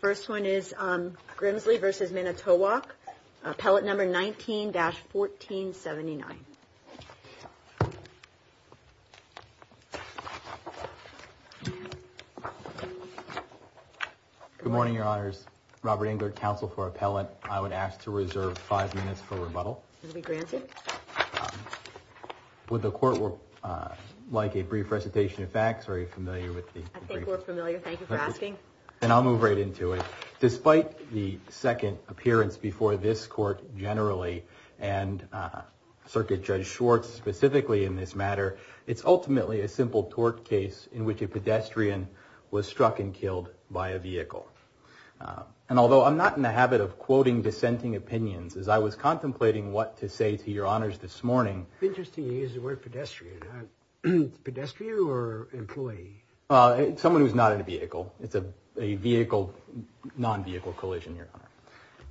First one is Grimsley v. Manitowoc, appellate number 19-1479. Good morning, your honors. Robert Engler, counsel for appellate. I would ask to reserve five minutes for rebuttal. Will be granted. Would the court like a brief recitation of facts? Are you familiar I think we're familiar. Thank you for asking. And I'll move right into it. Despite the second appearance before this court generally and Circuit Judge Schwartz specifically in this matter, it's ultimately a simple tort case in which a pedestrian was struck and killed by a vehicle. And although I'm not in the habit of quoting dissenting opinions as I was contemplating what to say to your honors this morning. Interesting you use the word pedestrian. Pedestrian or employee? Someone who's not in a vehicle. It's a vehicle, non-vehicle collision, your honor.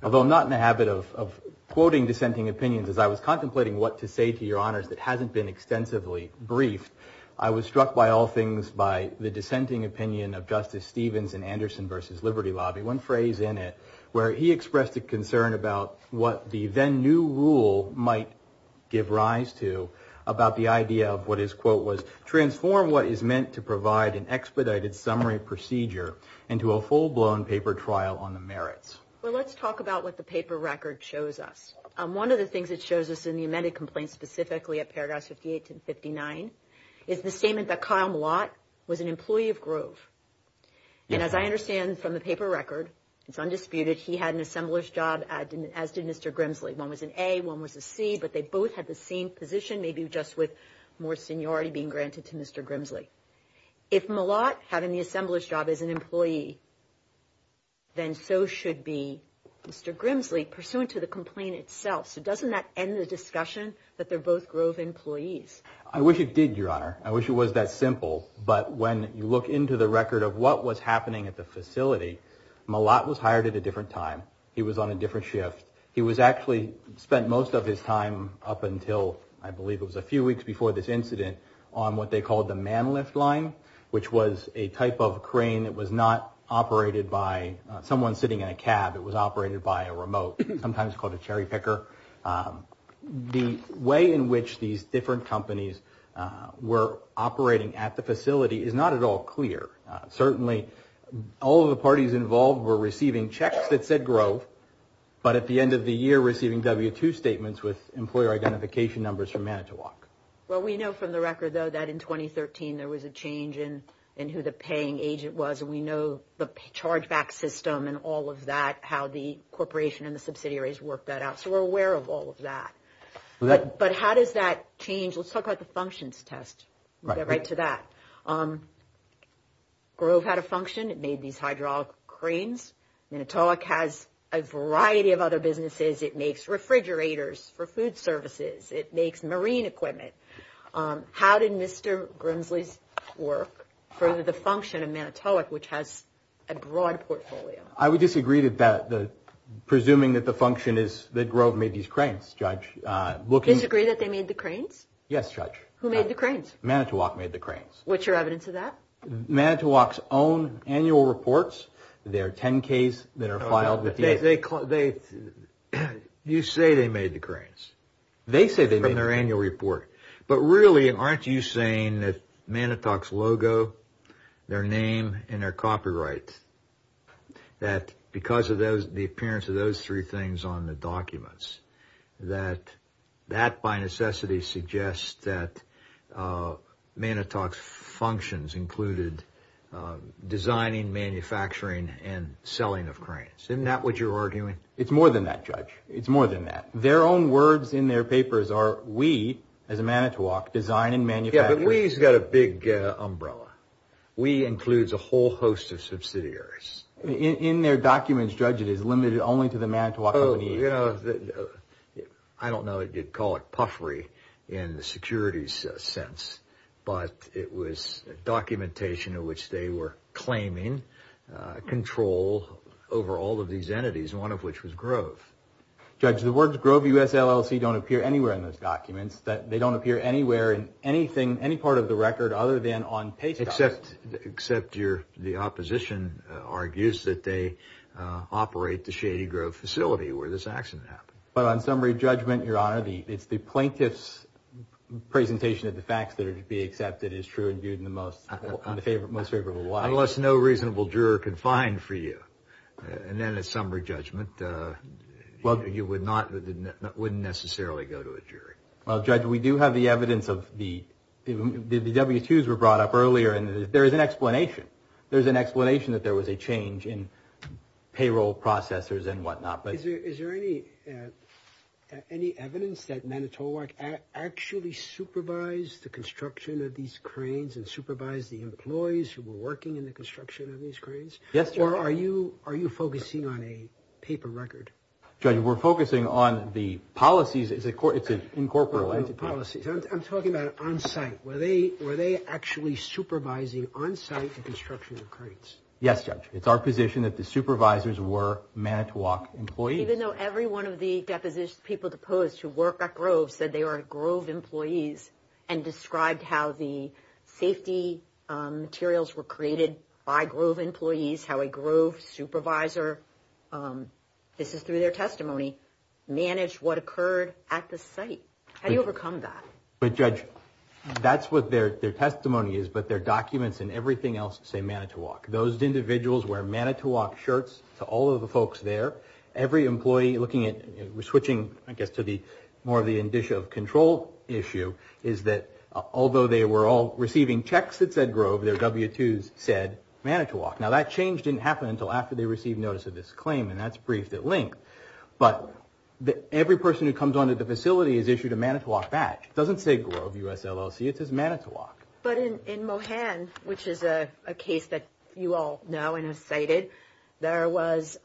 Although not in the habit of quoting dissenting opinions as I was contemplating what to say to your honors that hasn't been extensively briefed. I was struck by all things by the dissenting opinion of Justice Stevens in Anderson v. Liberty Lobby. One phrase in it where he transformed what is meant to provide an expedited summary procedure into a full-blown paper trial on the merits. Well let's talk about what the paper record shows us. One of the things it shows us in the amended complaint specifically at paragraphs 58 and 59 is the statement that Kyle Malott was an employee of Grove. And as I understand from the paper record, it's undisputed, he had an assembler's job as did Mr. Grimsley. One was an A, one was a C, but they both had the position maybe just with more seniority being granted to Mr. Grimsley. If Malott having the assembler's job as an employee, then so should be Mr. Grimsley pursuant to the complaint itself. So doesn't that end the discussion that they're both Grove employees? I wish it did your honor. I wish it was that simple, but when you look into the record of what was happening at the facility, Malott was hired at a different time. He was on a different shift. He was actually spent most of his time up until I believe it was a few weeks before this incident on what they called the man lift line, which was a type of crane that was not operated by someone sitting in a cab. It was operated by a remote, sometimes called a cherry picker. The way in which these different companies were operating at the facility is not at all clear. Certainly all of the parties involved were receiving checks that said Grove, but at the end of the year receiving W-2 statements with employer identification numbers from Manitowoc. Well, we know from the record though that in 2013 there was a change in who the paying agent was. We know the chargeback system and all of that, how the corporation and the subsidiaries worked that out. So we're aware of all of that. But how does that change? Let's talk about the functions test. We'll get right to that. Grove had a function. It made these hydraulic cranes. Manitowoc has a variety of other businesses. It makes refrigerators for food services. It makes marine equipment. How did Mr. Grimsley's work further the function of Manitowoc, which has a broad portfolio? I would disagree that presuming that the function is that Grove made these cranes, Judge. Disagree that they made the cranes? Yes, Judge. Who made the cranes? Manitowoc made the cranes. Which are Manitowoc's own annual reports. They're 10-Ks that are filed. You say they made the cranes. They say they made the cranes. From their annual report. But really, aren't you saying that Manitowoc's logo, their name, and their copyright, that because of the appearance of those three things on the documents, that that by necessity suggests that Manitowoc's functions included designing, manufacturing, and selling of cranes? Isn't that what you're arguing? It's more than that, Judge. It's more than that. Their own words in their papers are, we, as a Manitowoc, design and manufacture. Yeah, but we's got a big umbrella. We includes a whole host of subsidiaries. In their documents, Judge, it is limited only to Manitowoc. Oh, you know, I don't know. You'd call it puffery in the securities sense. But it was documentation of which they were claiming control over all of these entities, one of which was Grove. Judge, the words Grove, U.S. LLC, don't appear anywhere in those documents. They don't appear anywhere in anything, any part of the record, other than on pay stops. Except your, the opposition argues that they operate the shady Grove facility where this accident happened. But on summary judgment, Your Honor, it's the plaintiff's presentation of the facts that be accepted as true and viewed in the most favorable light. Unless no reasonable juror can find for you, and then it's summary judgment, you would not, wouldn't necessarily go to a jury. Well, Judge, we do have the evidence of the, the W-2s were brought up earlier, and there is an explanation. There's an explanation that there was a change in payroll processors and whatnot. Is there any evidence that Manitowoc actually supervised the construction of these cranes and supervised the employees who were working in the construction of these cranes? Yes, Your Honor. Or are you focusing on a paper record? Judge, we're focusing on the policies. It's an incorporable entity. Policies. I'm talking about on site. Were they actually supervising on site the construction of cranes? Yes, Judge. It's our position that the supervisors were Manitowoc employees. Even though every one of the deposition people deposed to work at Grove said they were Grove employees and described how the safety materials were created by Grove employees, how a Grove supervisor, this is through their testimony, managed what occurred at the site. How do you overcome that? But Judge, that's what their testimony is, but their documents and everything else say Manitowoc. Those individuals wear Manitowoc shirts to all of the folks there. Every employee looking at, switching, I guess, to the more of the indicia of control issue is that although they were all receiving checks that said Grove, their W-2s said Manitowoc. Now, that change didn't happen until after they received notice of this claim, and that's briefed at length. But every person who comes onto the facility has issued a Manitowoc badge. It doesn't say Grove US LLC, it says Manitowoc. But in Mohan, which is a case that you all know and have cited, there was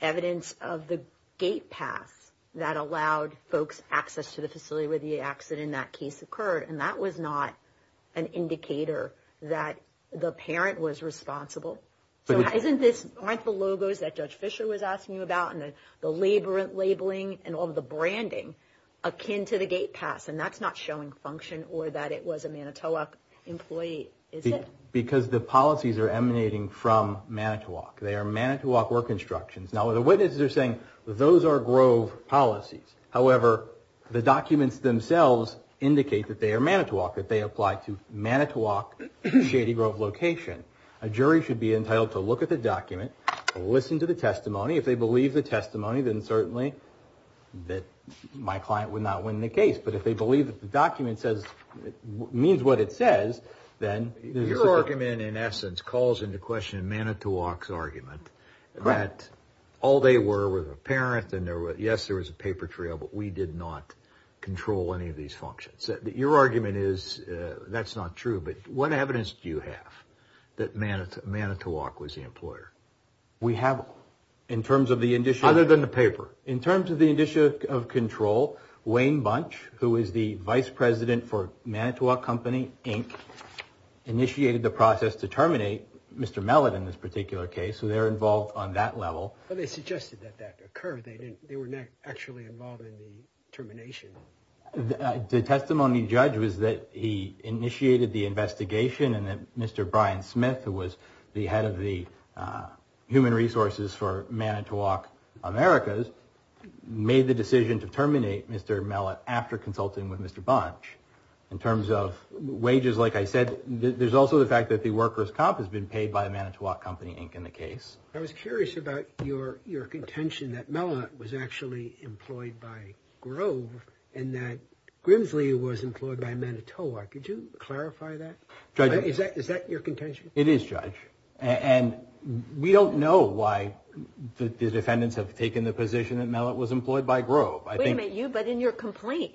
evidence of the gate pass that allowed folks access to the facility where the accident in that case occurred, and that was not an indicator that the parent was responsible. So isn't this, aren't the logos that Judge Fisher was asking you about, and the labeling and all the branding akin to the gate pass, and that's not showing function or that it was a Manitowoc employee, is it? Because the policies are emanating from Manitowoc. They are Manitowoc work instructions. Now, the witnesses are saying those are Grove policies. However, the documents themselves indicate that they are Manitowoc, that they a jury should be entitled to look at the document, listen to the testimony. If they believe the testimony, then certainly that my client would not win the case. But if they believe that the document says, means what it says, then... Your argument, in essence, calls into question Manitowoc's argument that all they were was a parent, and yes, there was a paper trail, but we did not control any of these functions. Your argument is, that's not true, but what evidence do you have that Manitowoc was the employer? We have, in terms of the initial... Other than the paper. In terms of the initial control, Wayne Bunch, who is the Vice President for Manitowoc Company, Inc., initiated the process to terminate Mr. Mellott in this particular case, so they're involved on that level. But they suggested that that occur, they were not involved in the termination. The testimony judge was that he initiated the investigation, and that Mr. Brian Smith, who was the head of the Human Resources for Manitowoc Americas, made the decision to terminate Mr. Mellott after consulting with Mr. Bunch. In terms of wages, like I said, there's also the fact that the workers' comp has been paid by Manitowoc Company, in the case. I was curious about your contention that Mellott was actually employed by Grove, and that Grimsley was employed by Manitowoc. Could you clarify that? Judge... Is that your contention? It is, Judge. And we don't know why the defendants have taken the position that Mellott was employed by Grove. Wait a minute, you, but in your complaint,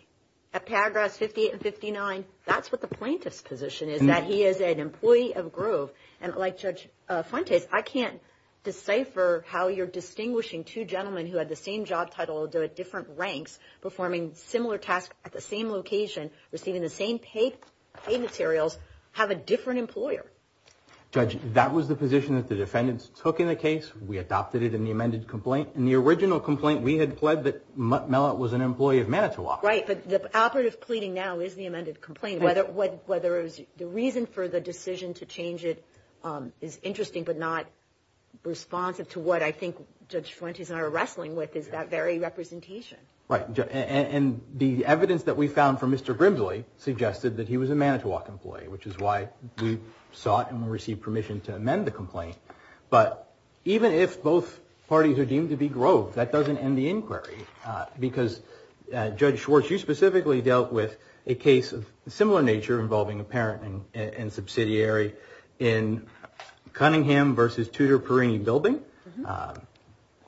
at paragraphs 58 and 59, that's what the plaintiff's position is, that he is an employee of Grove. And like Judge Fuentes, I can't decipher how you're distinguishing two gentlemen who had the same job title, at different ranks, performing similar tasks at the same location, receiving the same paid materials, have a different employer. Judge, that was the position that the defendants took in the case. We adopted it in the amended complaint. In the original complaint, we had pled that Mellott was an employee of Manitowoc. Right, but the operative pleading now is the amended complaint, whether it was the reason for the decision to change it is interesting, but not responsive to what I think Judge Fuentes and I are wrestling with, is that very representation. Right, and the evidence that we found from Mr. Grimsley suggested that he was a Manitowoc employee, which is why we sought and received permission to amend the complaint. But even if both parties are deemed to be Grove, that doesn't end the inquiry, because Judge Schwartz, you specifically dealt with a case of similar nature involving a parent and subsidiary in Cunningham versus Tudor-Perini building.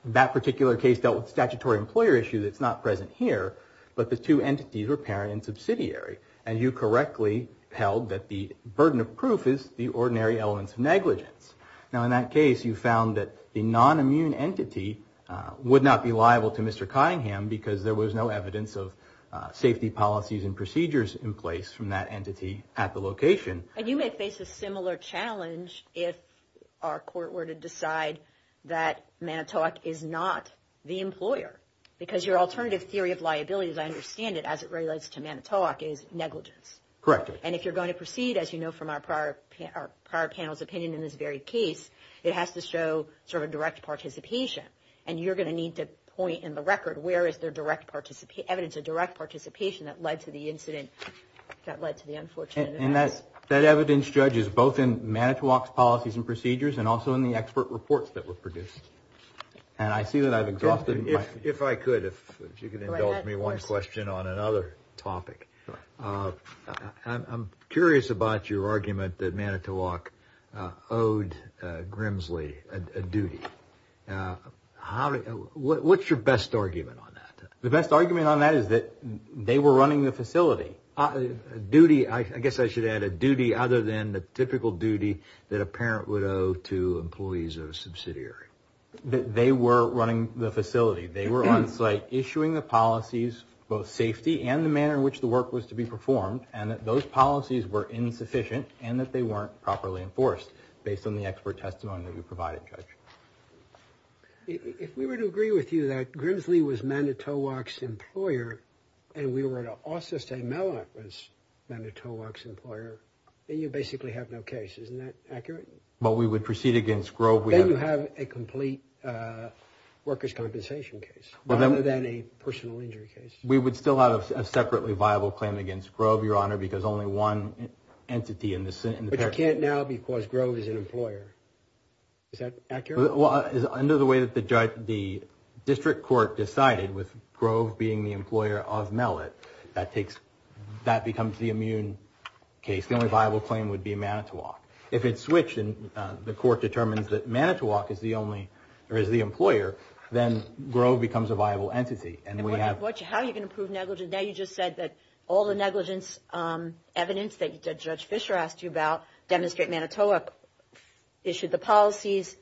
That particular case dealt with statutory employer issue that's not present here, but the two entities were parent and subsidiary, and you correctly held that the burden of proof is the ordinary elements of negligence. Now, in that case, you found that the non-immune entity would not be liable to Mr. Cunningham because there was no evidence of safety policies and procedures in place from that entity at the location. And you may face a similar challenge if our court were to decide that Manitowoc is not the employer, because your alternative theory of liability, as I understand it, as it relates to Manitowoc is negligence. Correct. And if you're going to proceed, as you know from our prior panel's opinion in this very case, it has to show sort of direct participation. And you're going to need to point in the record where is there evidence of direct participation that led to the incident that led to the unfortunate event. And that evidence, Judge, is both in Manitowoc's policies and procedures and also in the expert reports that were produced. And I see that I've exhausted my... If I could, if you could indulge me one question on another topic. I'm curious about your argument that Manitowoc owed Grimsley a duty. What's your best argument on that? The best argument on that is that they were running the facility. Duty, I guess I should add, a duty other than the typical duty that a parent would owe to employees of a subsidiary. That they were running the facility. They were on site issuing the policies, both safety and the manner in which the work was to be performed. And that those policies were insufficient and that they weren't properly enforced based on the expert testimony that we provided, Judge. If we were to agree with you that Grimsley was Manitowoc's employer and we were to also say Mellon was Manitowoc's employer, then you basically have no case. Isn't that accurate? But we would proceed against Grove... You have a complete workers' compensation case rather than a personal injury case. We would still have a separately viable claim against Grove, Your Honor, because only one entity in the... But you can't now because Grove is an employer. Is that accurate? Well, under the way that the district court decided with Grove being the employer of Mellon, that becomes the immune case. The only viable claim would be Manitowoc. If it's switched and the court determines that Manitowoc is the only, or is the employer, then Grove becomes a viable entity. And how are you going to prove negligence? Now you just said that all the negligence evidence that Judge Fischer asked you about demonstrate Manitowoc issued the policies,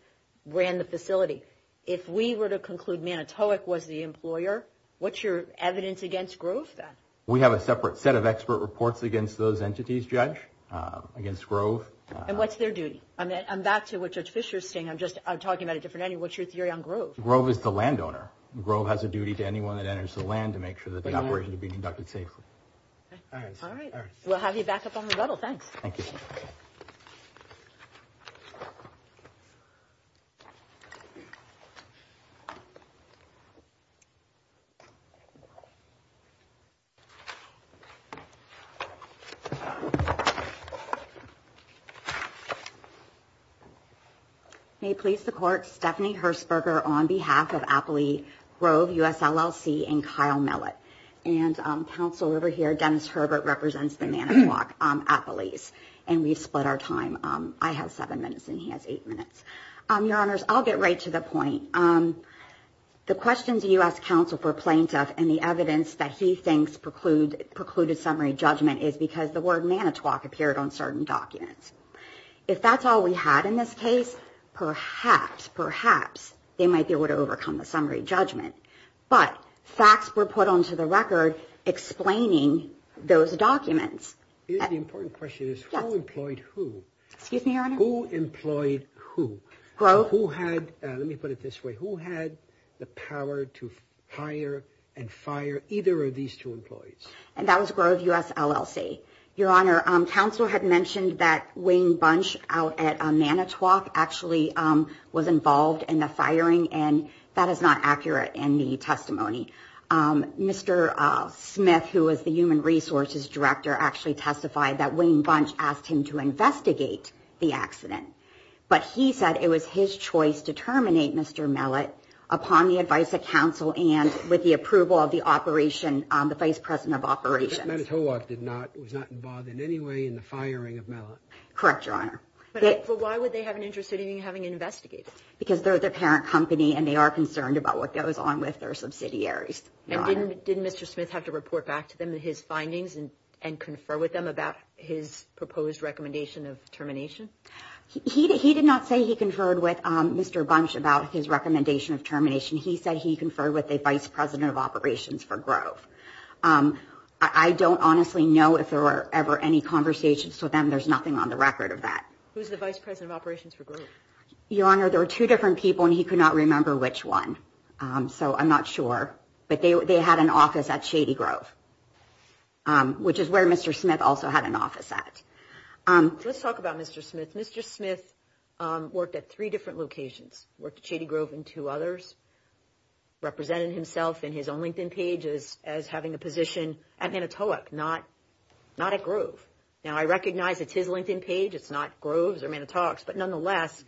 ran the facility. If we were to conclude Manitowoc was the employer, what's your evidence against Grove then? We have a separate set of expert reports against those entities, Judge, against Grove. And what's their duty? I'm back to what Judge Fischer is saying. I'm just talking about a different entity. What's your theory on Grove? Grove is the landowner. Grove has a duty to anyone that enters the land to make sure that the operation is being conducted safely. All right. We'll have you back up on the floor. May it please the court, Stephanie Hersberger on behalf of Appley Grove, US LLC, and Kyle Millet. And counsel over here, Dennis Herbert represents the Manitowoc, Appley's. And we've split our time. I have seven minutes and he has eight minutes. Your honors, I'll get right to the point. The questions you asked counsel for plaintiff and the evidence that he thinks precluded summary judgment is because the word Manitowoc appeared on certain documents. If that's all we had in this case, perhaps, perhaps they might be able to overcome the summary judgment. But facts were put onto the record explaining those documents. The important question is who employed who? Excuse me, your honor? Who employed who? Grove. Let me put it this way. Who had the power to hire and fire either of these two employees? And that was Grove, US LLC. Your honor, counsel had mentioned that Wayne Bunch out at Manitowoc actually was involved in the firing. And that is not accurate in the testimony. Mr. Smith, who was the human resources director, actually testified that Wayne Bunch asked him to investigate the accident. But he said it was his choice to terminate Mr. Mellot upon the advice of counsel and with the approval of the operation, the vice president of operations. Manitowoc did not, was not involved in any way in the firing of Mellot. Correct, your honor. But why would they have an interest in having an investigator? Because they're the parent company and they are concerned about what goes on with their subsidiaries. And didn't Mr. Smith have to report back to them his findings and confer with them about his proposed recommendation of termination? He did not say he conferred with Mr. Bunch about his recommendation of termination. He said he conferred with the vice president of operations for Grove. I don't honestly know if there were ever any conversations with them. There's nothing on the record of that. Who's the vice president of operations for Grove? Your honor, there were two different people and he could not remember which one. So I'm not sure. But they had an office at. Let's talk about Mr. Smith. Mr. Smith worked at three different locations, worked at Shady Grove and two others, represented himself in his own LinkedIn pages as having a position at Manitowoc, not not at Grove. Now, I recognize it's his LinkedIn page. It's not Grove's or Manitowoc's. But nonetheless,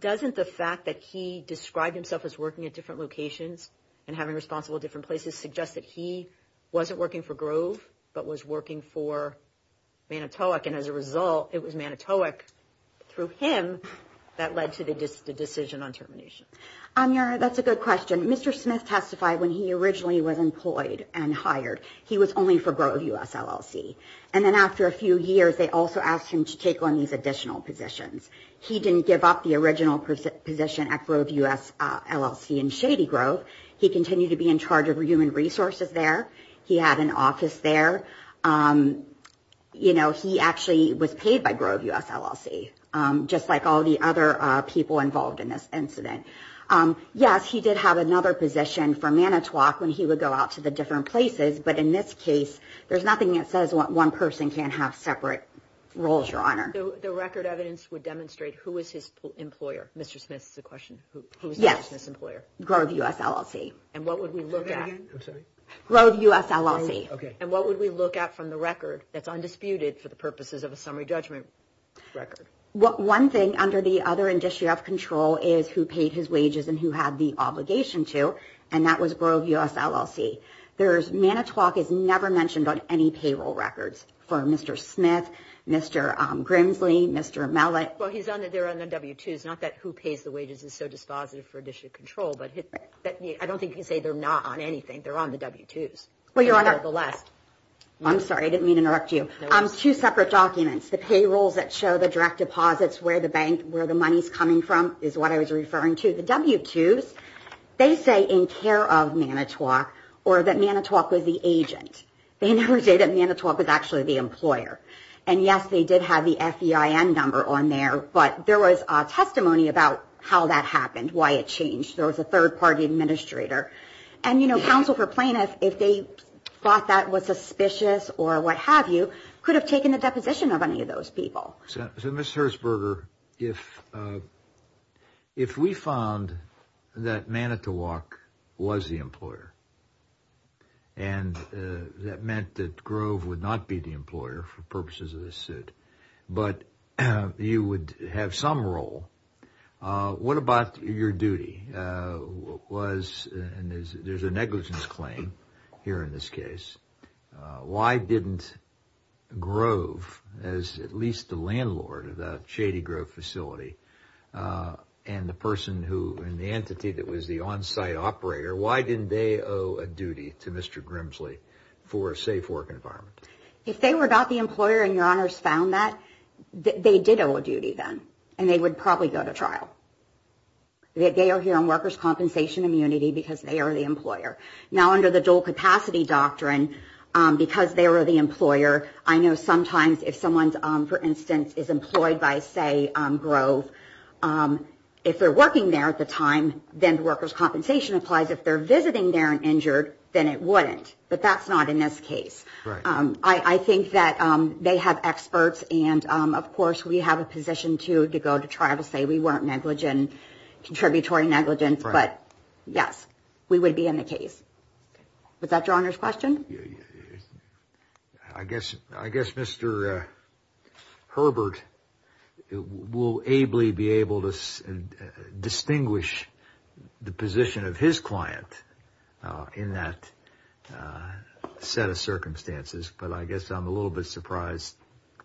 doesn't the fact that he described himself as working at different locations and having responsible different places suggest that he wasn't working for Grove, but was working for Manitowoc? And as a result, it was Manitowoc through him that led to the decision on termination? Your honor, that's a good question. Mr. Smith testified when he originally was employed and hired. He was only for Grove U.S. LLC. And then after a few years, they also asked him to take on these additional positions. He didn't give up the original position at Grove U.S. LLC in Shady Grove. He continued to be in charge of human resources there. He had an office there. You know, he actually was paid by Grove U.S. LLC, just like all the other people involved in this incident. Yes, he did have another position for Manitowoc when he would go out to the different places. But in this case, there's nothing that says one person can't have separate roles, your honor. So the record evidence would demonstrate who was his employer? Mr. Smith's the question. Who was his employer? Grove U.S. LLC. And what would we look at? Grove U.S. LLC. And what would we look at from the record that's undisputed for the purposes of a summary judgment record? One thing under the other industry of control is who paid his wages and who had the obligation to. And that was Grove U.S. LLC. There's Manitowoc is never mentioned on any payroll records for Mr. Smith, Mr. Grimsley, Mr. Mellon. Well, he's on there on the W-2s, not that who pays the wages is so dispositive for industry control, but I don't think you say they're not on anything. They're on the W-2s. Well, your honor, the last I'm sorry, I didn't mean to interrupt you. Two separate documents, the payrolls that show the direct deposits, where the bank, where the money's coming from, is what I was referring to. The W-2s, they say in care of Manitowoc or that Manitowoc was the agent. They never say that Manitowoc was actually the employer. And yes, they did have the FEIN number on there, but there was a testimony about how that happened, why it changed. There was a third party administrator. And, you know, counsel for plaintiff, if they thought that was suspicious or what have you, could have taken the deposition of any of those people. So, Ms. Herzberger, if we found that Manitowoc was the employer and that meant that Grove would not be the employer for purposes of this suit, but you would have some role, what about your duty? Was, and there's a negligence claim here in this case. Why didn't Grove, as at least the landlord of the Shady Grove facility, and the person who, and the entity that was the on-site operator, why didn't they owe a duty to Mr. Grimsley for a safe work environment? If they were not the employer and your honors found that, they did owe a duty then, and they would probably go to trial. They are here on workers' compensation immunity because they are the employer. Now, under the dual capacity doctrine, because they were the employer, I know sometimes if someone's, for instance, is employed by, say, Grove, if they're working there at the time, then workers' compensation applies. If they're visiting there and injured, then it wouldn't, but that's not in this case. I think that they have experts and, of course, we have a position to go to trial to say we weren't negligent, contributory negligence, but yes, we would be in the case. Was that your honors' question? I guess Mr. Herbert will ably be able to set a circumstances, but I guess I'm a little bit surprised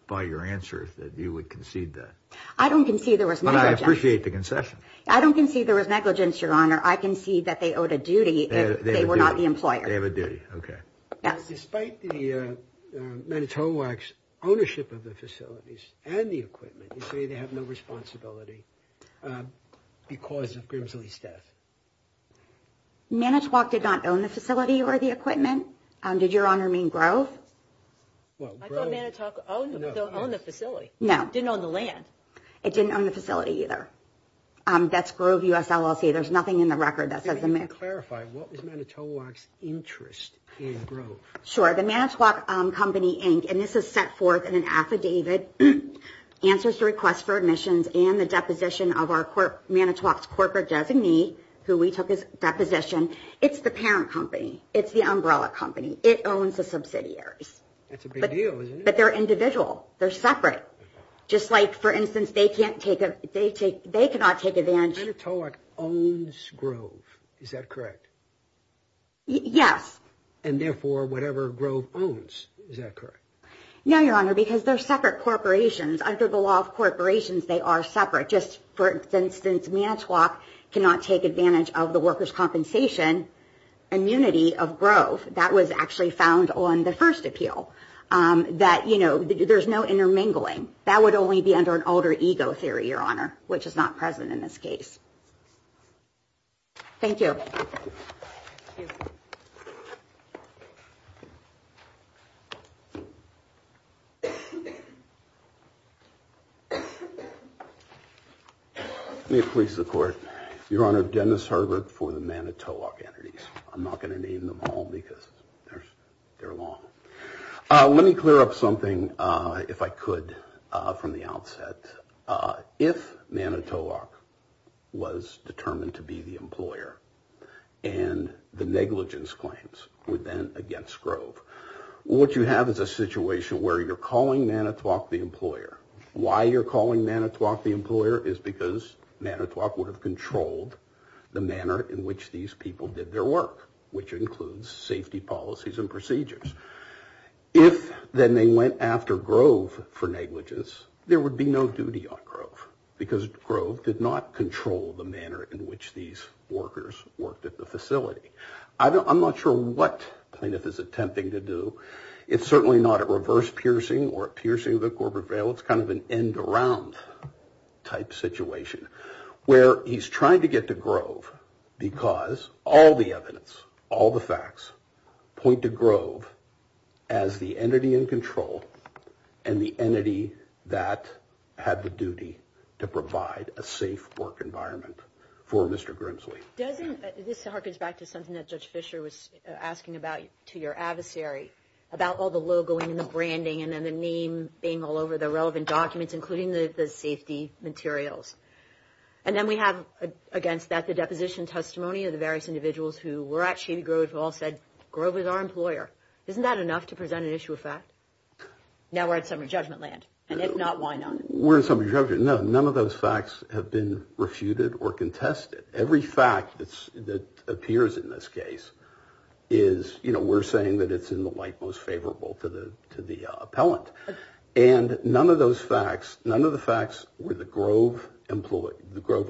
by your answers that you would concede that. I don't concede there was negligence. But I appreciate the concession. I don't concede there was negligence, your honor. I concede that they owed a duty if they were not the employer. They have a duty. Okay. Yes. Despite the Manitowoc's ownership of the facilities and the equipment, you say they have no responsibility because of Grimsley's death. Manitowoc did not own the facility or the equipment. Did your honor mean Grove? I thought Manitowoc owned the facility. No. It didn't own the land. It didn't own the facility either. That's Grove US LLC. There's nothing in the record that says that. Can you clarify, what was Manitowoc's interest in Grove? Sure. The Manitowoc Company, and this is set forth in an affidavit, answers to requests for admissions and the deposition of our Manitowoc's corporate designee, who we took as deposition. It's the parent company. It's the umbrella company. It owns the subsidiaries. That's a big deal, isn't it? But they're individual. They're separate. Just like, for instance, they cannot take advantage- Manitowoc owns Grove. Is that correct? Yes. And therefore, whatever Grove owns. Is that correct? No, your honor, because they're separate corporations. Under the law of corporations, they are separate. Just for instance, Manitowoc cannot take advantage of the workers' compensation immunity of Grove. That was actually found on the first appeal. That, you know, there's no intermingling. That would only be under an ego theory, your honor, which is not present in this case. Thank you. Let me please the court. Your honor, Dennis Herbert for the Manitowoc entities. I'm not going to name them all because they're long. Let me clear up something, if I could, from the outset. If Manitowoc was determined to be the employer and the negligence claims were then against Grove, what you have is a situation where you're calling Manitowoc the employer. Why you're calling Manitowoc the employer is because Manitowoc would have controlled the manner in which these people did their work, which includes safety policies and procedures. If then they went after Grove for negligence, there would be no duty on Grove because Grove did not control the manner in which these workers worked at the facility. I'm not sure what Plaintiff is attempting to do. It's certainly not a reverse piercing or a piercing of the corporate veil. It's kind of an end around type situation where he's trying to get to Grove because all the evidence, all the facts, point to Grove as the entity in control and the entity that had the duty to provide a safe work environment for Mr. Grimsley. This harkens back to something that Judge Fischer was asking about to your adversary about all the logoing and the branding and then the name being all over the relevant documents, including the safety materials. And then we have against that the deposition testimony of the various individuals who were at Shady Grove who all said, Grove is our employer. Isn't that enough to present an issue of fact? Now we're at summary judgment land. And if not, why not? We're in summary judgment. No, none of those facts have been refuted or contested. Every fact that appears in this case is, you know, we're saying that it's in the light most favorable to the appellant. And none of those were Grove employees. Where the Grove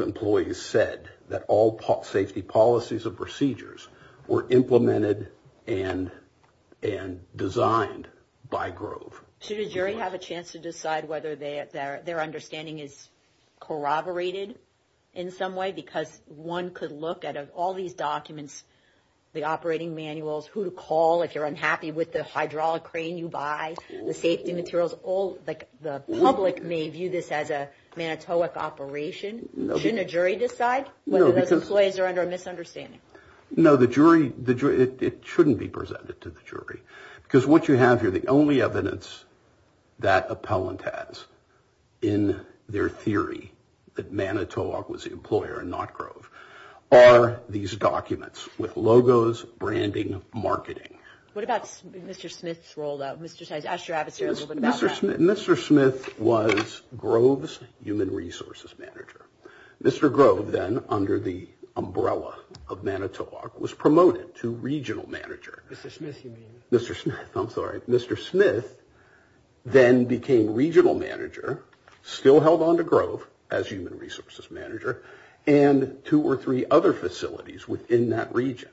employees said that all safety policies and procedures were implemented and designed by Grove. Should a jury have a chance to decide whether their understanding is corroborated in some way? Because one could look at all these documents, the operating manuals, who to call if you're unhappy with the hydraulic crane you buy, the safety materials, all the public may view this as a Manitowoc operation. Shouldn't a jury decide whether those employees are under a misunderstanding? No, the jury, it shouldn't be presented to the jury. Because what you have here, the only evidence that appellant has in their theory that Manitowoc was the employer and not Grove are these documents with logos, branding, marketing. What about Mr. Smith's role though? Mr. Smith was Grove's human resources manager. Mr. Grove then under the umbrella of Manitowoc was promoted to regional manager. Mr. Smith, I'm sorry. Mr. Smith then became regional manager, still held on to Grove as in that region.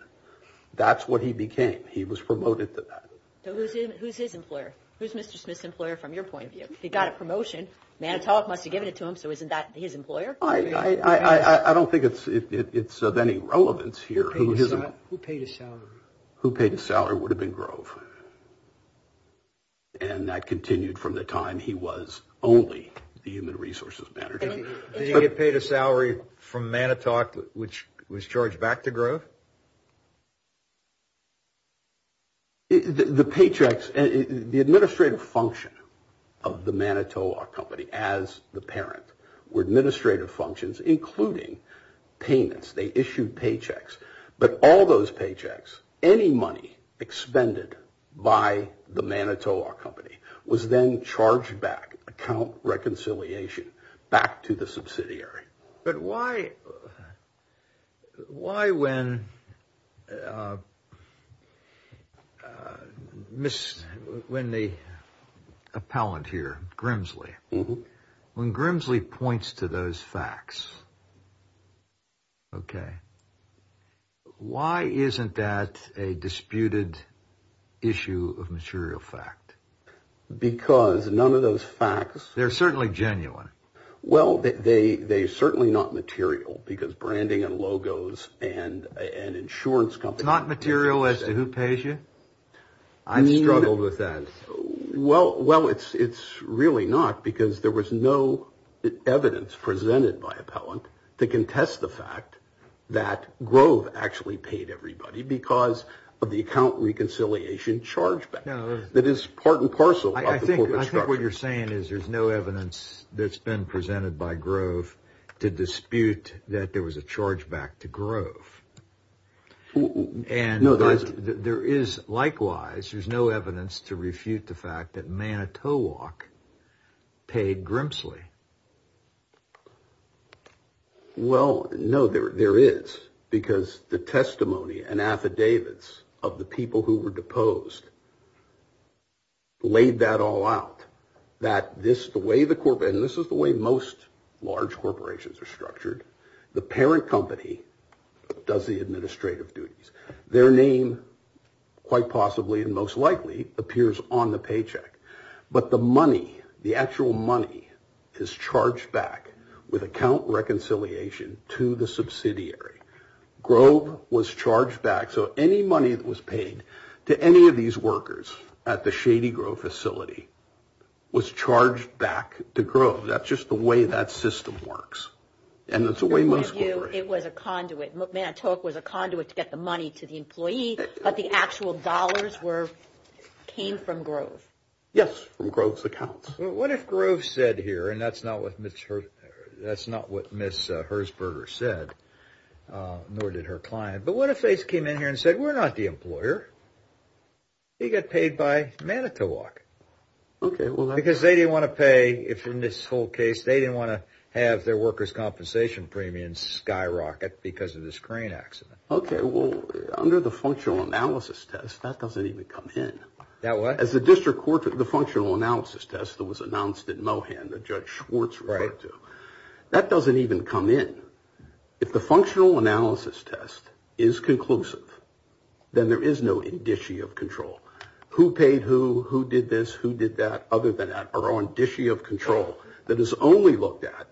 That's what he became. He was promoted to that. Who's his employer? Who's Mr. Smith's employer from your point of view? He got a promotion. Manitowoc must have given it to him, so isn't that his employer? I don't think it's of any relevance here. Who paid a salary? Who paid a salary would have been Grove. And that continued from the time he was only the human resources manager. The paychecks, the administrative function of the Manitowoc company as the parent were administrative functions, including payments. They issued paychecks, but all those paychecks, any money expended by the Manitowoc company was then charged back, account reconciliation, back to the subsidiary. But why, why when when the appellant here, Grimsley, when Grimsley points to those facts, okay, why isn't that a disputed issue of material fact? Because none of those facts, they're certainly genuine. Well, they, they certainly not material because branding and logos and an insurance company, not material as to who pays you. I mean, struggled with that. Well, well, it's, it's really not because there was no evidence presented by appellant to contest the fact that Grove actually paid everybody because of the account reconciliation charge that is part and parcel. I think what you're saying is there's no evidence that's been presented by Grove to dispute that there was a charge back to Grove. And there is likewise, there's no evidence to refute the fact that Manitowoc paid Grimsley. Well, no, there, there is because the testimony and affidavits of the people who were deposed laid that all out that this, the way the corporate, and this is the way most large corporations are structured. The parent company does the administrative duties, their name quite possibly and most likely appears on the paycheck, but the money, the actual money is charged back with account reconciliation to the subsidiary. Grove was charged back. So any money that was paid to any of these workers at the Shady Grove facility was charged back to Grove. That's just the way that system works. And it's the way most. It was a conduit. Manitowoc was a conduit to get the money to the employee, but the actual dollars were, came from Grove. Yes, from Grove's accounts. What if Grove said here, and that's not what Ms. Hersberger said, nor did her client, but what if they came in here and said, we're not the employer. He got paid by Manitowoc. Because they didn't want to pay, if in this whole case, they didn't want to have their workers' compensation premiums skyrocket because of this crane accident. Okay. Well, under the functional analysis test, that doesn't even come in. That what? As the district court, the functional analysis test that was announced at Mohan, the judge Schwartz referred to, that doesn't even come in. If the functional analysis test is conclusive, then there is no indicia of control. Who paid who, who did this, who did that, other than that are on indicia of control that is only looked at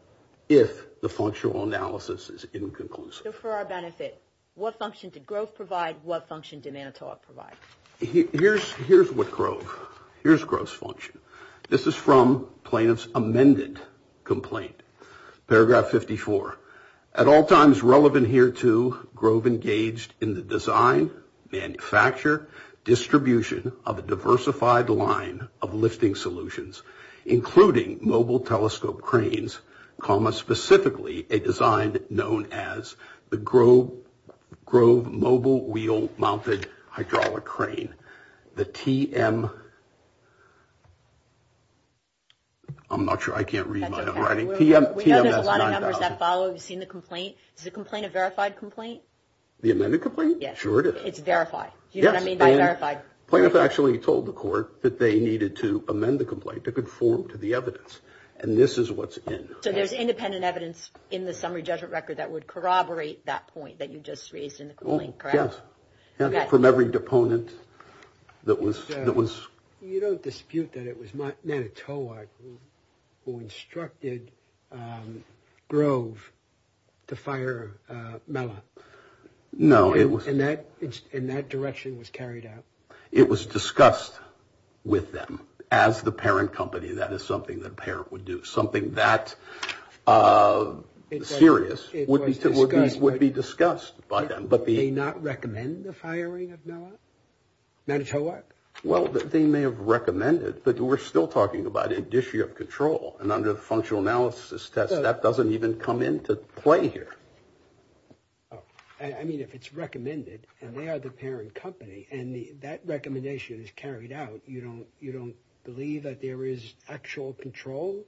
if the functional analysis is inconclusive. So for our benefit, what function did Grove provide? What function did Manitowoc provide? Here's what Grove, here's Grove's function. This is from plaintiff's amended complaint. Paragraph 54, at all times relevant here to Grove engaged in the design, manufacture, distribution of a diversified line of lifting solutions, including mobile telescope cranes, comma, specifically a design known as the Grove mobile wheel mounted hydraulic crane. The TM, I'm not sure, I can't read my own writing. We know there's a lot of numbers that follow. We've seen the complaint. Is the complaint a verified complaint? The amended complaint? Yes. Sure it is. It's verified. Do you know what I mean by verified? Plaintiff actually told the court that they needed to amend the complaint to conform to the evidence, and this is what's in. So there's independent evidence in the summary judgment record that would corroborate that point that you just raised in the complaint, correct? Yes. From every deponent that was... You don't dispute that it was Manitowoc who instructed Grove to fire Mela? No, it was... And that direction was carried out? It was discussed with them as the parent company. That is something that parent would do. Something that serious would be discussed by them. But they not recommend the firing of Mela? Manitowoc? Well, they may have recommended, but we're still talking about an issue of control. And under the functional analysis test, that doesn't even come into play here. Oh, I mean, if it's recommended and they are the parent company and that recommendation is carried out, you don't believe that there is actual control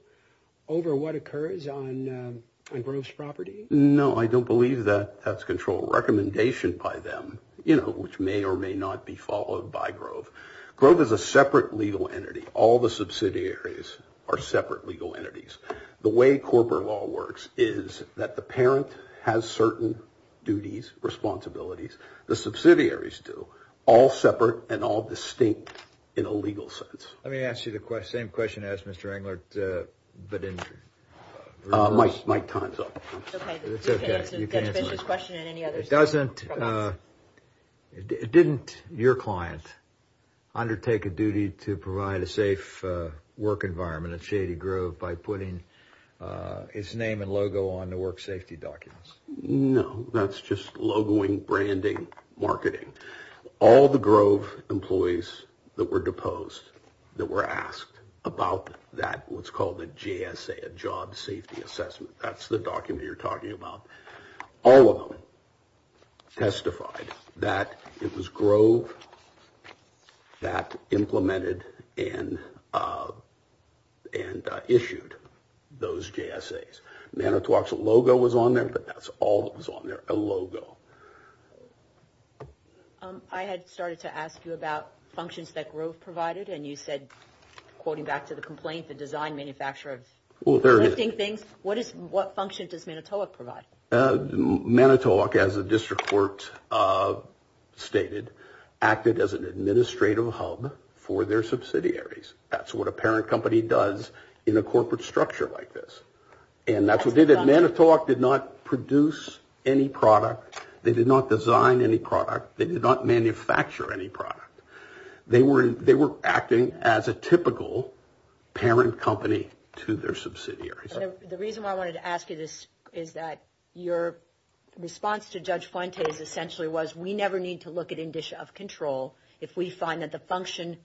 over what occurs on Grove's property? No, I don't believe that that's control recommendation by them, which may or may not be followed by Grove. Grove is a separate legal entity. All the subsidiaries are separate legal entities. The way corporate law works is that the parent has certain duties, responsibilities. The subsidiaries do. All separate and all distinct in a legal sense. Let me ask you the same question as Mr. Englert, but in reverse. Mike, time's up. It's okay, you can answer this question and any others. It doesn't... Didn't your client undertake a duty to provide a safe work environment at Shady Grove by putting his name and logo on the work safety documents? No, that's just logoing, branding, marketing. All the Grove employees that were deposed, that were asked about that, what's called a GSA, a job safety assessment. That's the document you're talking about. All of them testified that it was Grove that implemented and issued those GSAs. Manitowoc's logo was on there, but that's all that was on there, a logo. I had started to ask you about functions that Grove provided and you said, quoting back to the complaint, the design manufacturer of lifting things. What function does Manitowoc provide? Manitowoc, as the district court stated, acted as an administrative hub for their subsidiaries. That's what a parent company does in a corporate structure like this. And that's what they did. Manitowoc did not produce any product. They did not design any product. They did not manufacture any product. They were acting as a typical parent company to their subsidiaries. The reason why I wanted to ask you this is that your response to Judge Fuentes essentially was, we never need to look at condition of control if we find that the functional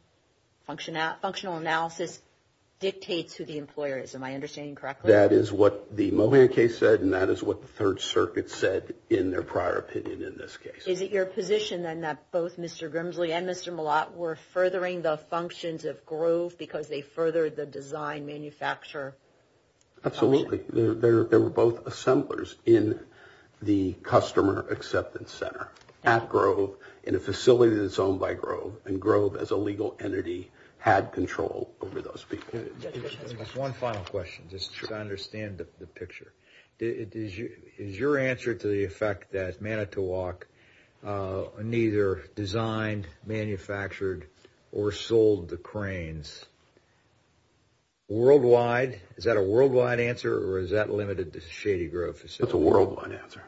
analysis dictates who the employer is. Am I understanding correctly? That is what the Mohan case said and that is what the Third Circuit said in their prior opinion in this case. Is it your position then that both Mr. Grimsley and Mr. Mallott were furthering the functions of Grove because they furthered the design manufacturer? Absolutely. They were both assemblers in the customer acceptance center at Grove in a facility that's owned by Grove and Grove as a legal entity had control over those people. One final question just to understand the picture. Is your answer to the effect that Manitowoc neither designed, manufactured, or sold the Manitowoc cranes worldwide? Is that a worldwide answer or is that limited to Shady Grove facility? That's a worldwide answer.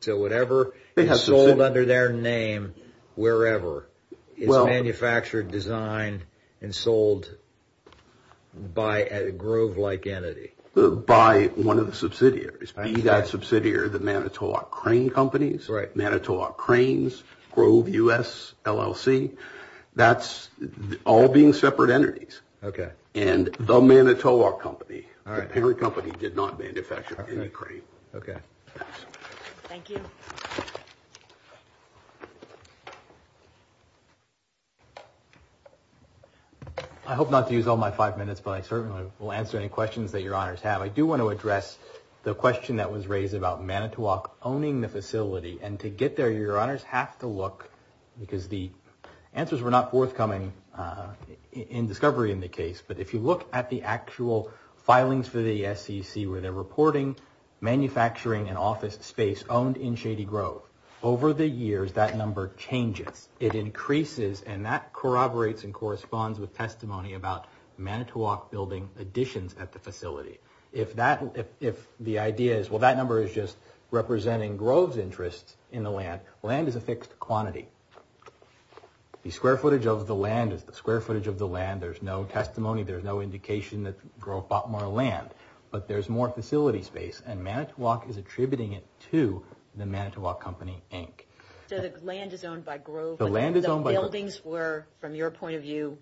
So whatever is sold under their name wherever is manufactured, designed, and sold by a Grove-like entity? By one of the subsidiaries. Be that subsidiary the Manitowoc Crane Companies, Manitowoc Cranes, Grove U.S., LLC. That's all being separate entities. And the Manitowoc Company, the parent company, did not manufacture any crane. I hope not to use all my five minutes but I certainly will answer any questions that your honors have. I do want to address the question that was raised about Manitowoc owning the facility and to get there your honors have to look because the answers were not forthcoming in discovery in the case but if you look at the actual filings for the SEC where they're reporting manufacturing and office space owned in Shady Grove over the years that number changes. It increases and that corroborates and corresponds with testimony about Manitowoc building additions at the facility. If the idea is well that number is just representing Grove's interest in the land. Land is a fixed quantity. The square footage of the land is the square footage of the land. There's no testimony. There's no indication that Grove bought more land but there's more facility space and Manitowoc is attributing it to the Manitowoc Company, Inc. So the land is owned by Grove? The land is owned by Grove. The buildings were, from your point of view,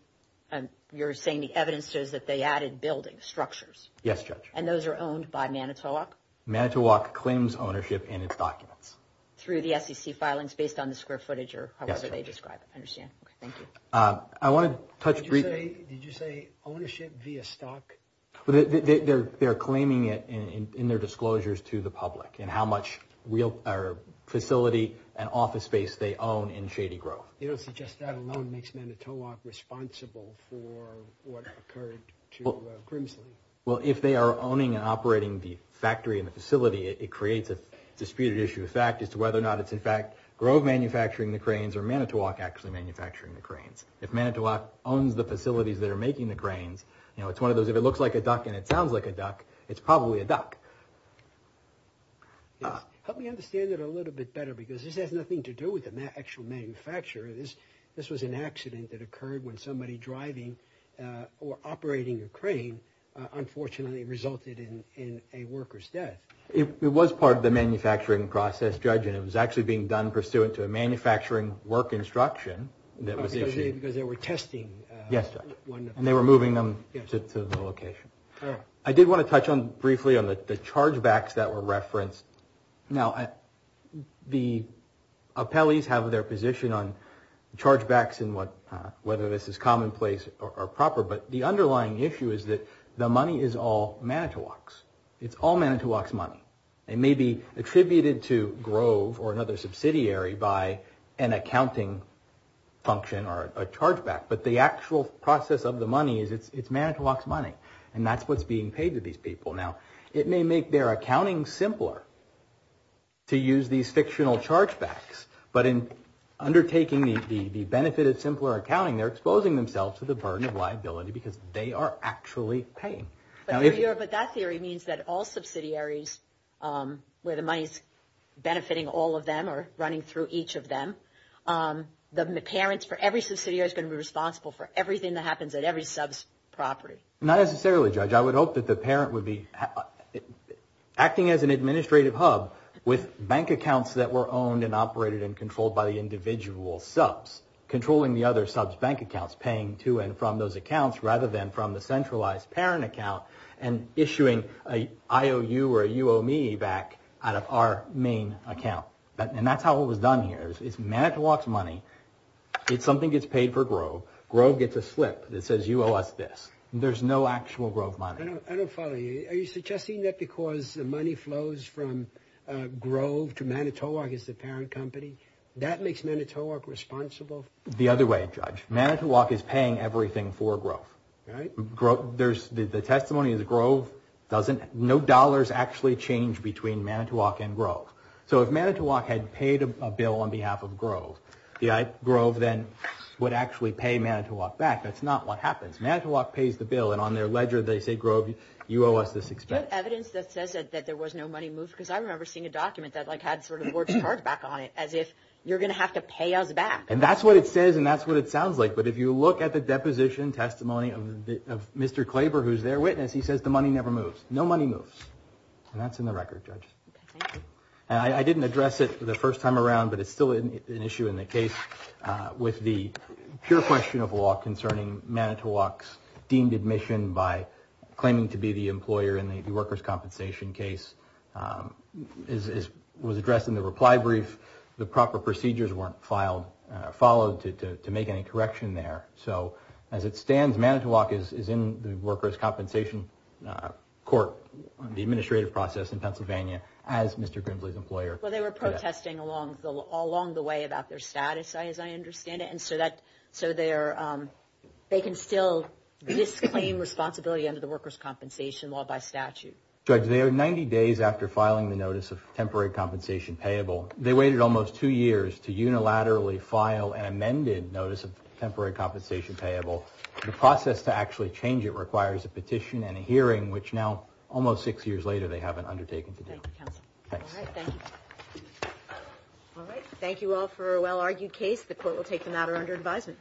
you're saying the evidence says that they added buildings, structures? Yes, Judge. And those are owned by Manitowoc? Manitowoc claims ownership in its documents. Through the SEC filings based on the square footage or however they describe it. I understand. Okay, thank you. I want to touch briefly. Did you say ownership via stock? They're claiming it in their disclosures to the public and how much facility and office space they own in Shady Grove. You don't suggest that alone makes Manitowoc responsible for what occurred to Grimsley? Well, if they are owning and operating the factory and the facility, it creates a disputed issue of fact as to whether or not it's in fact Grove manufacturing the cranes or Manitowoc actually manufacturing the cranes. If Manitowoc owns the facilities that are making the cranes, you know, it's one of those, if it looks like a duck and it sounds like a duck, it's probably a duck. Help me understand it a little bit better because this has nothing to do with the actual manufacturer. This was an accident that occurred when somebody driving or operating a crane, unfortunately, resulted in a worker's death. It was part of the manufacturing process, Judge, and it was actually being done pursuant to a manufacturing work instruction that was issued. Because they were testing. Yes, Judge, and they were moving them to the location. I did want to touch on briefly on the chargebacks that were referenced. Now, the appellees have their position on chargebacks and whether this is commonplace or proper, but the underlying issue is that the money is all Manitowoc's. It's all Manitowoc's money. It may be attributed to Grove or another subsidiary by an accounting function or a chargeback, but the actual process of the money is it's Manitowoc's money, and that's what's being paid to these people. Now, it may make their accounting simpler to use these fictional chargebacks, but in undertaking the benefit of simpler accounting, they're exposing themselves to the burden of liability because they are actually paying. But that theory means that all subsidiaries, where the money is benefiting all of them or running through each of them, the parents for every subsidiary is going to be responsible for everything that happens at every sub's property. Not necessarily, Judge. I would hope that the parent would be acting as an administrative hub with bank accounts that were owned and operated and controlled by the individual subs, controlling the other sub's bank accounts, paying to and from those accounts rather than from the centralized parent account and issuing a IOU or a UO me back out of our main account. And that's how it was done here. It's Manitowoc's money. It's something gets paid for Grove. Grove gets a slip that says you owe us this. There's no actual Grove money. I don't follow you. Are you suggesting that because the money flows from Grove to Manitowoc as the parent company, that makes Manitowoc responsible? The other way, Judge. Manitowoc is paying everything for Grove. Right. The testimony of the Grove doesn't, no dollars actually change between Manitowoc and Grove. So if Manitowoc had paid a bill on behalf of Grove, the Grove then would actually pay Manitowoc back. That's not what happens. Manitowoc pays the bill and on their ledger they say, Grove, you owe us this expense. Do you have evidence that says that there was no money moved? Because I remember seeing a document that like had sort of the word charge back on it as if you're going to have to pay us back. And that's what it says and that's what it sounds like. But if you look at the deposition testimony of Mr. Klaber, who's their witness, he says the money never moves. No money moves. And that's in the record, Judge. Okay, thank you. And I didn't address it the first time around, but it's still an issue in the case with the pure question of law concerning Manitowoc's deemed admission by claiming to be the employer in the workers' compensation case was addressed in the reply brief. The proper procedures weren't followed to make any correction there. So as it stands, Manitowoc is in the workers' compensation court, the administrative process in Pennsylvania, as Mr. Grimsley's employer. Well, they were protesting along the way about their status, as I understand it. So they can still disclaim responsibility under the workers' compensation law by statute. Judge, they are 90 days after filing the notice of temporary compensation payable. They waited almost two years to unilaterally file an amended notice of temporary compensation payable. The process to actually change it requires a petition and a hearing, which now, almost six years later, they haven't undertaken today. Thank you, counsel. Thanks. All right. Thank you all for a well-argued case. The Court will take the matter under advisement.